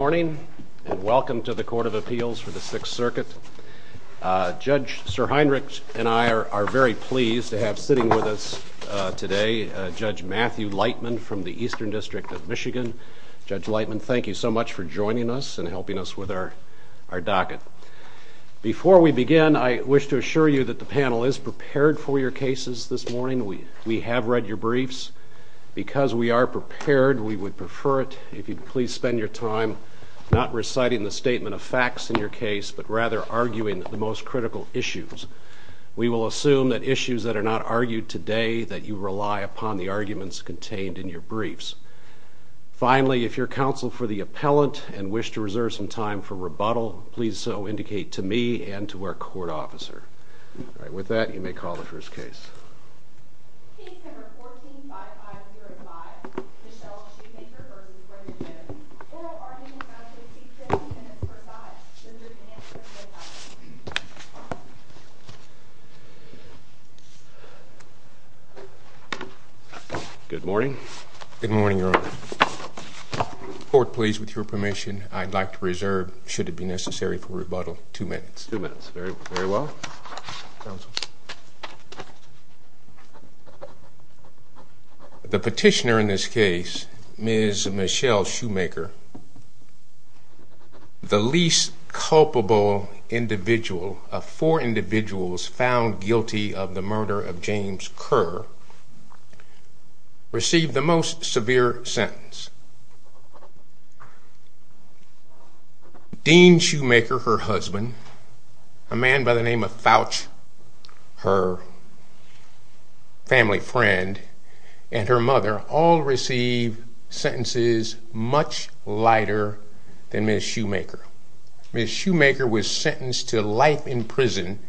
Good morning, and welcome to the Court of Appeals for the Sixth Circuit. Judge SirHeinrich and I are very pleased to have sitting with us today Judge Matthew Lightman from the Eastern District of Michigan. Judge Lightman, thank you so much for joining us and helping us with our docket. Before we begin, I wish to assure you that the panel is prepared for your cases this morning. We have read your briefs. Because we are prepared, we would prefer it if you would please spend your time not reciting the statement of facts in your case, but rather arguing the most critical issues. We will assume that issues that are not argued today that you rely upon the arguments contained in your briefs. Finally, if you are counsel for the appellant and wish to reserve some time for rebuttal, please so indicate to me and to our court officer. With that, you may call the first case. Case number 14-5505, Michelle Shoemaker, Brenda Jones. Oral arguments have to be 15 minutes per side. This is an answer from Judge Lightman. Good morning. Good morning, Your Honor. Court please, with your permission, I'd like to reserve, should it be necessary for rebuttal, two minutes. Two minutes. Very well. Counsel. The petitioner in this case, Ms. Michelle Shoemaker, the least culpable individual of four individuals found guilty of the murder of James Kerr, received the most severe sentence. Dean Shoemaker, her husband, a man by the name of Fouch, her family friend, and her mother all received sentences much lighter than Ms. Shoemaker. Ms. Shoemaker was sentenced to life in prison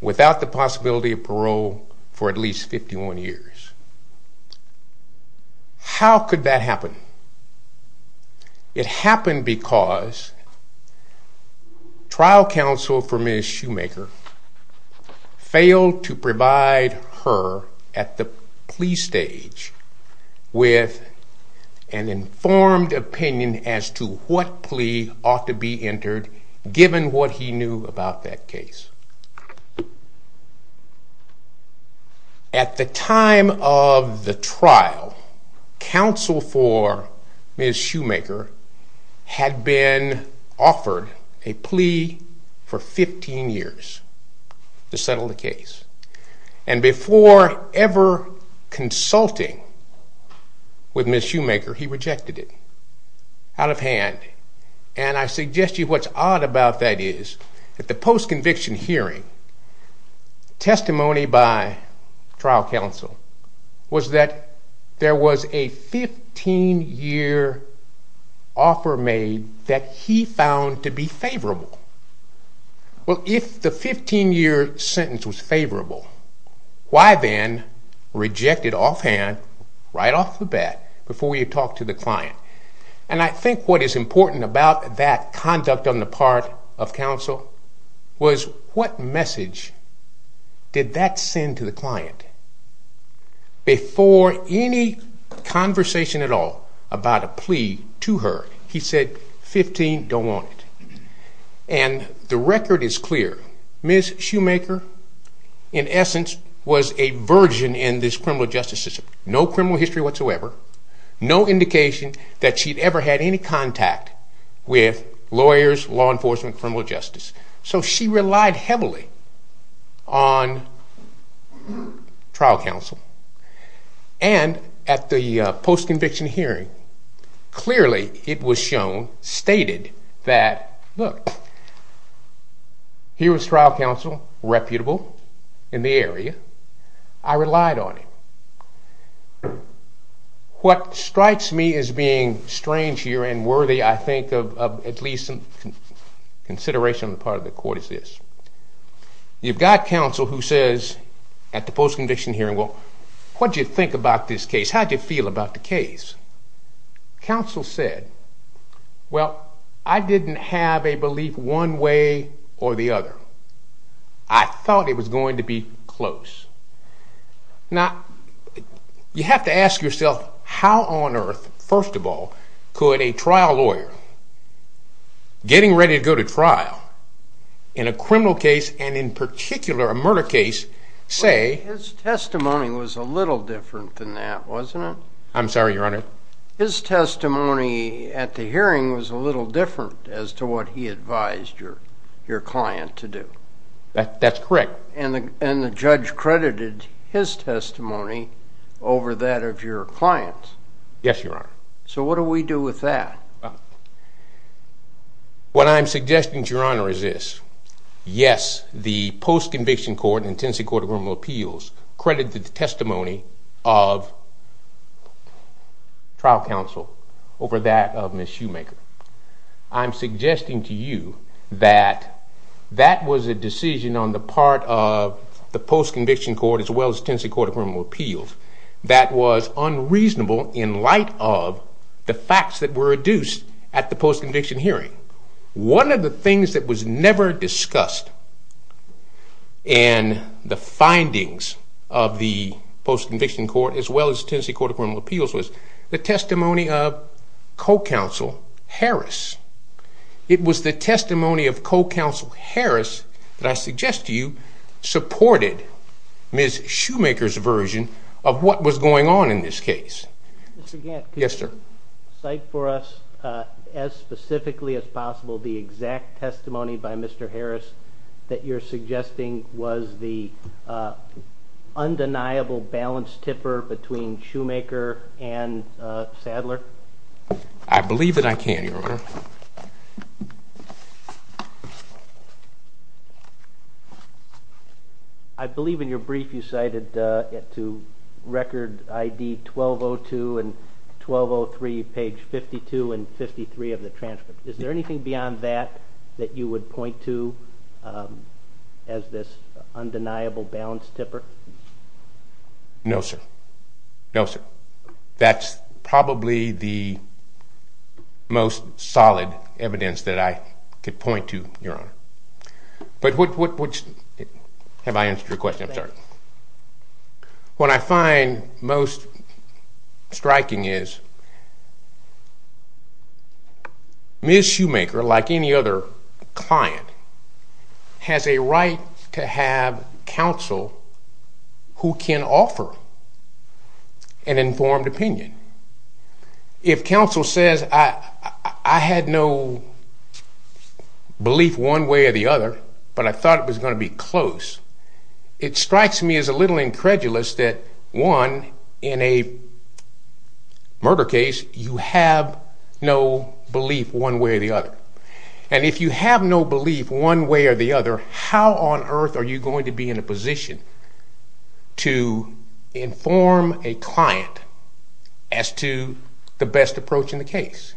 without the possibility of parole for at least 51 years. How could that happen? It happened because trial counsel for Ms. Shoemaker failed to provide her at the plea stage with an informed opinion as to what plea ought to be entered given what he knew about that case. At the time of the trial, counsel for Ms. Shoemaker had been offered a plea for 15 years to settle the case. And before ever consulting with Ms. Shoemaker, he rejected it out of hand. And I suggest to you what's odd about that is at the post-conviction hearing, testimony by trial counsel was that there was a 15-year offer made that he found to be favorable. Well, if the 15-year sentence was favorable, why then reject it offhand right off the bat before you talk to the client? And I think what is important about that conduct on the part of counsel was what message did that send to the client? Before any conversation at all about a plea to her, he said, 15, don't want it. And the record is clear. Ms. Shoemaker, in essence, was a virgin in this criminal justice system. No criminal history whatsoever. No indication that she'd ever had any contact with lawyers, law enforcement, criminal justice. So she relied heavily on trial counsel. And at the post-conviction hearing, clearly it was shown, stated that, look, here was trial counsel, reputable in the area. I relied on him. What strikes me as being strange here and worthy, I think, of at least some consideration on the part of the court is this. You've got counsel who says at the post-conviction hearing, well, what did you think about this case? How did you feel about the case? Counsel said, well, I didn't have a belief one way or the other. I thought it was going to be close. Now, you have to ask yourself, how on earth, first of all, could a trial lawyer, getting ready to go to trial, in a criminal case, and in particular a murder case, say- His testimony was a little different than that, wasn't it? I'm sorry, Your Honor. His testimony at the hearing was a little different as to what he advised your client to do. That's correct. And the judge credited his testimony over that of your client. Yes, Your Honor. So what do we do with that? What I'm suggesting to Your Honor is this. Yes, the post-conviction court and Tennessee Court of Criminal Appeals credited the testimony of trial counsel over that of Ms. Shoemaker. I'm suggesting to you that that was a decision on the part of the post-conviction court as well as Tennessee Court of Criminal Appeals that was unreasonable in light of the facts that were reduced at the post-conviction hearing. One of the things that was never discussed in the findings of the post-conviction court as well as Tennessee Court of Criminal Appeals was the testimony of co-counsel Harris. It was the testimony of co-counsel Harris that I suggest to you supported Ms. Shoemaker's version of what was going on in this case. Mr. Gantt- Yes, sir. Cite for us as specifically as possible the exact testimony by Mr. Harris that you're suggesting was the undeniable balance tipper between Shoemaker and Sadler. I believe that I can, Your Honor. I believe in your brief you cited to record ID 1202 and 1203, page 52 and 53 of the transcript. Is there anything beyond that that you would point to as this undeniable balance tipper? No, sir. No, sir. That's probably the most solid evidence that I could point to, Your Honor. But what's- have I answered your question? I'm sorry. What I find most striking is Ms. Shoemaker, like any other client, has a right to have counsel who can offer an informed opinion. If counsel says, I had no belief one way or the other, but I thought it was going to be close, it strikes me as a little incredulous that, one, in a murder case, you have no belief one way or the other. And if you have no belief one way or the other, how on earth are you going to be in a position to inform a client as to the best approach in the case?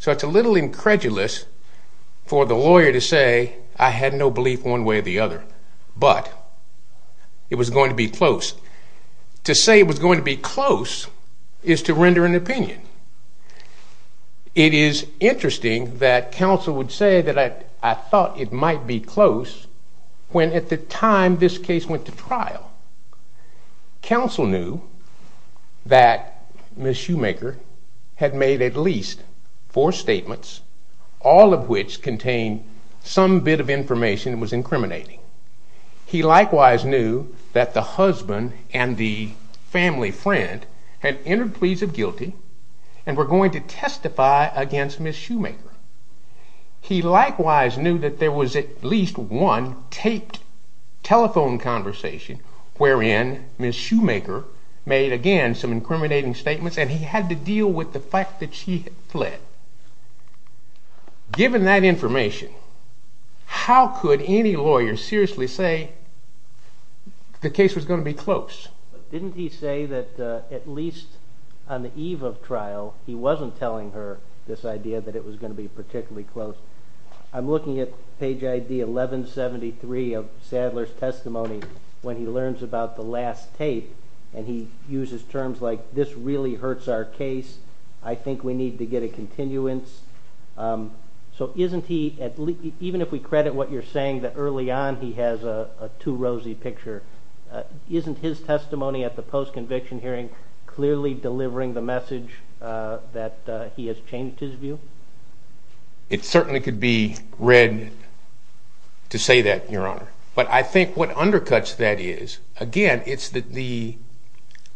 So it's a little incredulous for the lawyer to say, I had no belief one way or the other, but it was going to be close. To say it was going to be close is to render an opinion. It is interesting that counsel would say that I thought it might be close when at the time this case went to trial, counsel knew that Ms. Shoemaker had made at least four statements, all of which contained some bit of information that was incriminating. He likewise knew that the husband and the family friend had entered pleas of guilty and were going to testify against Ms. Shoemaker. He likewise knew that there was at least one taped telephone conversation wherein Ms. Shoemaker made again some incriminating statements and he had to deal with the fact that she had fled. Given that information, how could any lawyer seriously say the case was going to be close? Didn't he say that at least on the eve of trial he wasn't telling her this idea that it was going to be particularly close? I'm looking at page ID 1173 of Sadler's testimony when he learns about the last tape and he uses terms like this really hurts our case, I think we need to get a continuance. Even if we credit what you're saying that early on he has a too rosy picture, isn't his testimony at the post-conviction hearing clearly delivering the message that he has changed his view? It certainly could be read to say that, Your Honor, but I think what undercuts that is, again, it's the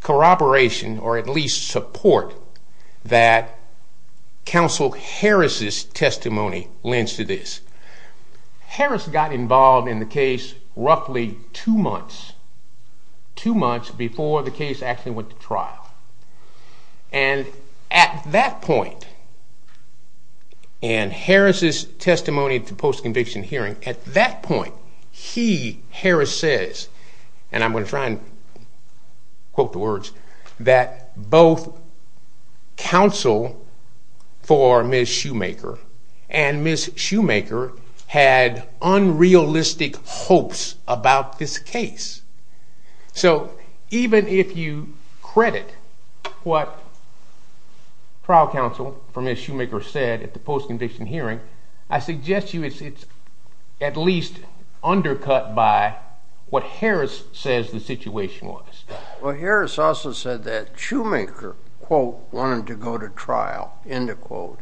corroboration or at least support that counsel Harris' testimony lends to this. Harris got involved in the case roughly two months, two months before the case actually went to trial. And at that point, and Harris' testimony at the post-conviction hearing, at that point he, Harris says, and I'm going to try and quote the words, that both counsel for Ms. Shoemaker and Ms. Shoemaker had unrealistic hopes about this case. So even if you credit what trial counsel for Ms. Shoemaker said at the post-conviction hearing, I suggest to you it's at least Harris also said that Shoemaker, quote, wanted to go to trial, end of quote,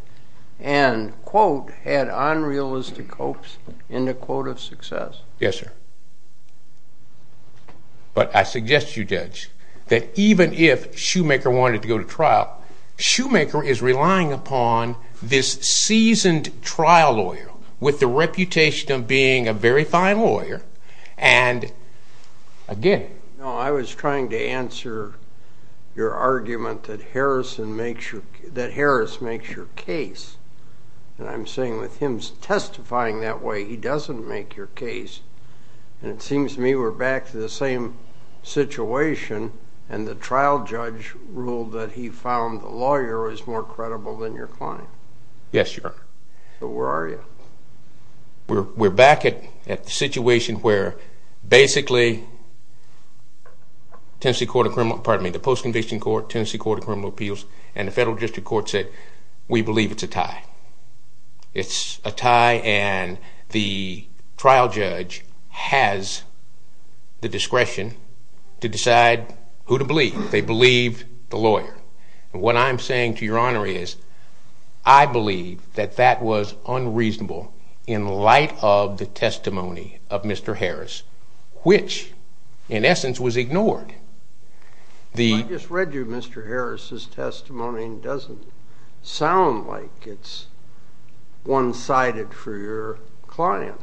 and, quote, had unrealistic hopes, end of quote, of success. Yes, sir. But I suggest to you, Judge, that even if Shoemaker wanted to go to trial, Shoemaker is relying upon this seasoned trial lawyer with the reputation of being a very fine lawyer and, again No, I was trying to answer your argument that Harris makes your case. And I'm saying with him testifying that way, he doesn't make your case. And it seems to me we're back to the same situation and the trial judge ruled that he found the lawyer was more credible than your client. Yes, Your Honor. So where are you? We're back at the situation where basically the post-conviction court, Tennessee Court of Criminal Appeals, and the federal district court said we believe it's a tie. It's a tie and the trial judge has the discretion to decide who to believe. They believe the lawyer. And what I'm saying to Your Honor is I believe that that was unreasonable in light of the testimony of Mr. Harris, which, in essence, was ignored. I just read you Mr. Harris' testimony and it doesn't sound like it's one-sided for your client.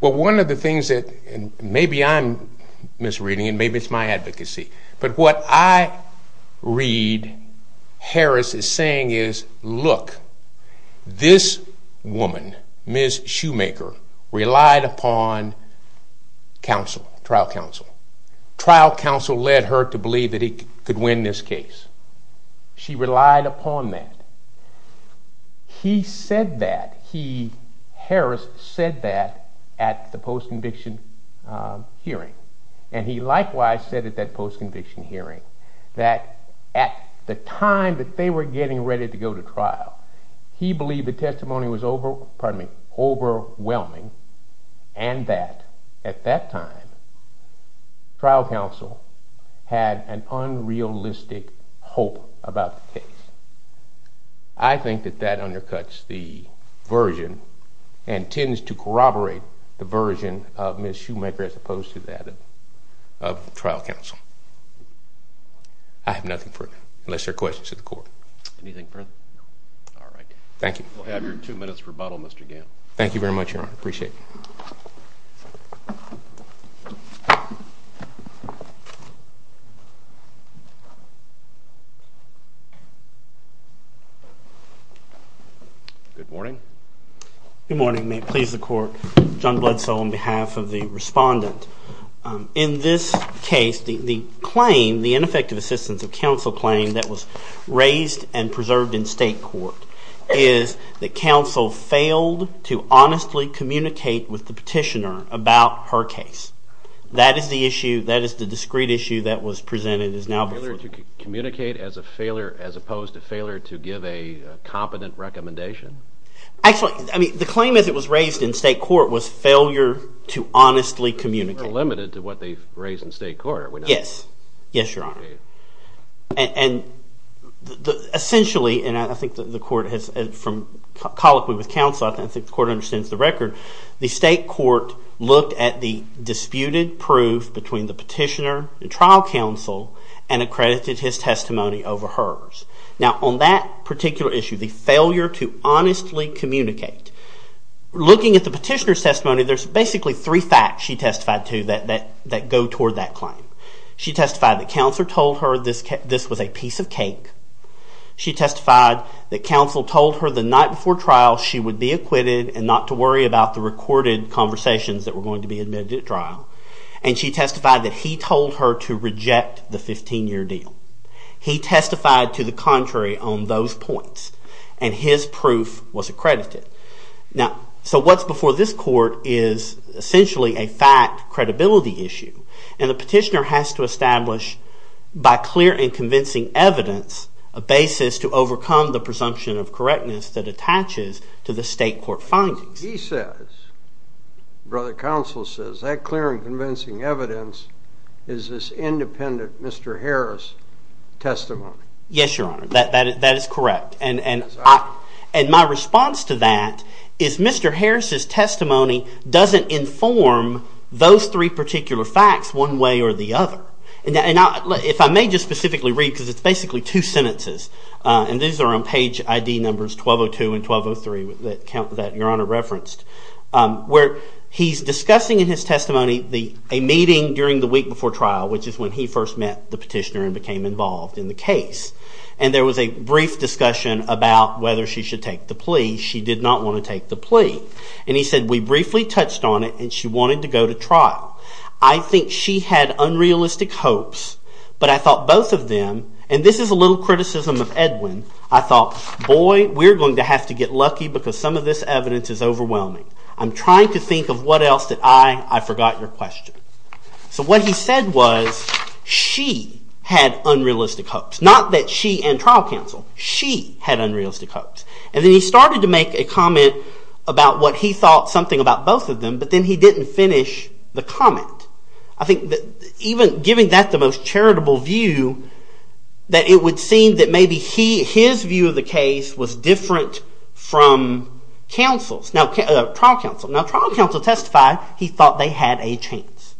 Well, one of the things that maybe I'm misreading and maybe it's my advocacy, but what I read Harris is saying is, look, this woman, Ms. Shoemaker, relied upon trial counsel. Trial counsel led her to believe that he could win this case. She relied upon that. He said that. Harris said that at the post-conviction hearing. And he likewise said at that post-conviction hearing that at the time that they were getting ready to go to trial, he believed the testimony was overwhelming and that, at that time, trial counsel had an unrealistic hope about the case. I think that that undercuts the version and tends to corroborate the version of Ms. Shoemaker as opposed to that of trial counsel. I have nothing further, unless there are questions to the court. Anything further? No. All right. Thank you. We'll have your two minutes rebuttal, Mr. Gant. Thank you very much, Your Honor. Appreciate it. Good morning. Good morning. May it please the court. John Bledsoe on behalf of the respondent. In this case, the claim, the ineffective assistance of counsel claim that was raised and preserved in state court is that counsel failed to honestly communicate with the petitioner about her case. That is the issue. That is the discrete issue that was presented as now before the court. Communicate as opposed to failure to give a competent recommendation? Actually, the claim as it was raised in state court was failure to honestly communicate. We're limited to what they've raised in state court, are we not? Yes. Yes, Your Honor. And essentially, and I think the court has from colloquy with counsel, I think the court understands the record. The state court looked at the disputed proof between the petitioner and trial counsel and accredited his testimony over hers. Now, on that particular issue, the failure to honestly communicate, looking at the petitioner's testimony, there's basically three facts she testified to that go toward that claim. She testified that counsel told her this was a piece of cake. She testified that counsel told her the night before trial she would be acquitted and not to worry about the recorded conversations that were going to be admitted at trial. And she testified that he told her to reject the 15-year deal. He testified to the contrary on those points. And his proof was accredited. Now, so what's before this court is essentially a fact credibility issue. And the petitioner has to establish, by clear and convincing evidence, a basis to overcome the presumption of correctness that attaches to the state court findings. He says, brother counsel says, that clear and convincing evidence is this independent Mr. Harris testimony. Yes, Your Honor. That is correct. And my response to that is Mr. Harris's testimony doesn't inform those three particular facts one way or the other. And if I may just specifically read, because it's basically two sentences. And these are on page ID numbers 1202 and 1203 that Your Honor referenced, where he's discussing in his testimony a meeting during the week before trial, which is when he first met the petitioner and became involved in the case. And there was a brief discussion about whether she should take the plea. She did not want to take the plea. And he said, we briefly touched on it, and she wanted to go to trial. I think she had unrealistic hopes. But I thought both of them, and this is a little criticism of Edwin, I thought, boy, we're going to have to get lucky because some of this evidence is overwhelming. I'm trying to think of what else did I, I forgot your question. So what he said was she had unrealistic hopes. Not that she and trial counsel. She had unrealistic hopes. And then he started to make a comment about what he thought something about both of them, but then he didn't finish the comment. I think even giving that the most charitable view that it would seem that maybe his view of the case was different from trial counsel. Counsel testified he thought they had a chance.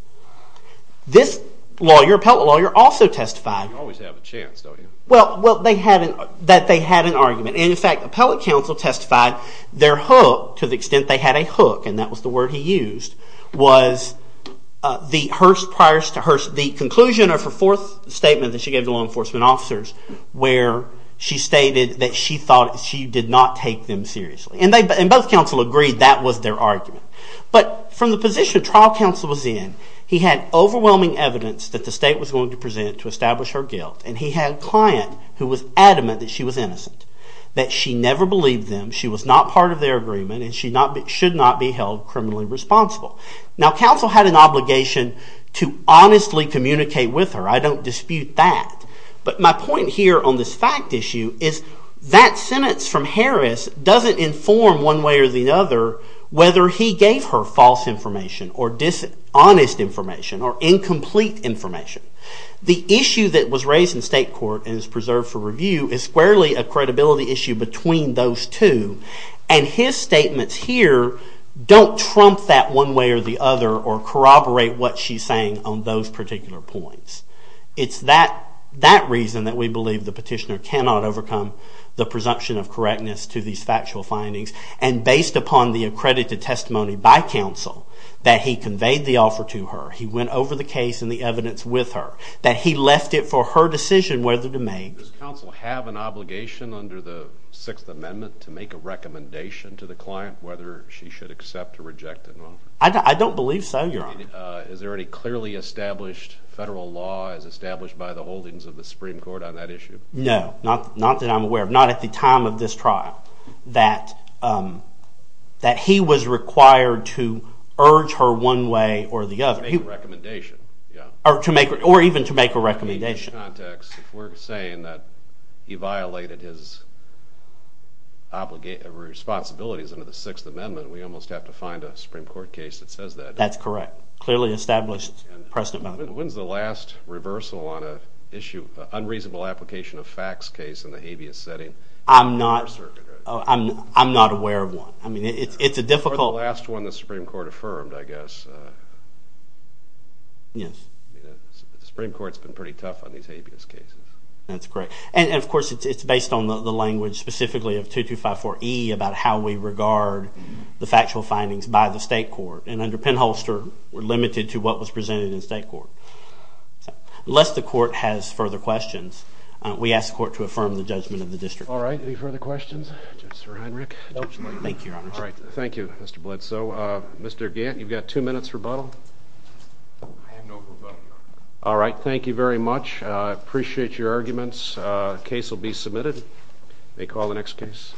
This lawyer, appellate lawyer, also testified. You always have a chance, don't you? Well, that they had an argument. And in fact, appellate counsel testified their hook, to the extent they had a hook, and that was the word he used, was the conclusion of her fourth statement that she gave to law enforcement officers where she stated that she thought she did not take them seriously. And both counsel agreed that was their argument. But from the position trial counsel was in, he had overwhelming evidence that the state was going to present to establish her guilt. And he had a client who was adamant that she was innocent. That she never believed them, she was not part of their agreement, and she should not be held criminally responsible. Now counsel had an obligation to honestly communicate with her. I don't dispute that. But my point here on this fact issue is that sentence from Harris doesn't inform one way or the other whether he gave her false information, or dishonest information, or incomplete information. The issue that was raised in state court and is preserved for review is squarely a credibility issue between those two. And his statements here don't trump that one way or the other or corroborate what she's saying on those particular points. It's that reason that we believe the petitioner cannot overcome the presumption of correctness to these factual findings. And based upon the accredited testimony by counsel that he conveyed the offer to her, he went over the case and the evidence with her, that he left it for her decision whether to make... Does counsel have an obligation under the Sixth Amendment to make a recommendation to the client whether she should accept or reject an offer? I don't believe so, Your Honor. Is there any clearly established federal law as established by the holdings of the Supreme Court on that issue? No. Not that I'm aware of. Not at the time of this trial. That he was required to urge her one way or the other. Make a recommendation. Or even to make a recommendation. If we're saying that he violated his responsibilities under the Sixth Amendment, we almost have to find a Supreme Court case that says that. That's correct. Clearly established precedent by the holdings. When's the last reversal on an issue of unreasonable application of facts case in the habeas setting? I'm not aware of one. It's a difficult... Or the last one the Supreme Court affirmed, I guess. Yes. The Supreme Court's been pretty tough on these habeas cases. That's correct. And of course it's based on the language specifically of 2254E about how we regard the factual findings by the state court. And under Penholster, we're limited to what was presented in state court. Unless the court has further questions, we ask the court to affirm the judgment of the district court. All right. Any further questions? Judge Sir Heinrich? Nope. Thank you, Your Honor. All right. Thank you, Mr. Bledsoe. Mr. Gant, you've got two minutes rebuttal. I have no rebuttal. All right. Thank you very much. I appreciate your arguments. Case will be submitted. May call the next case.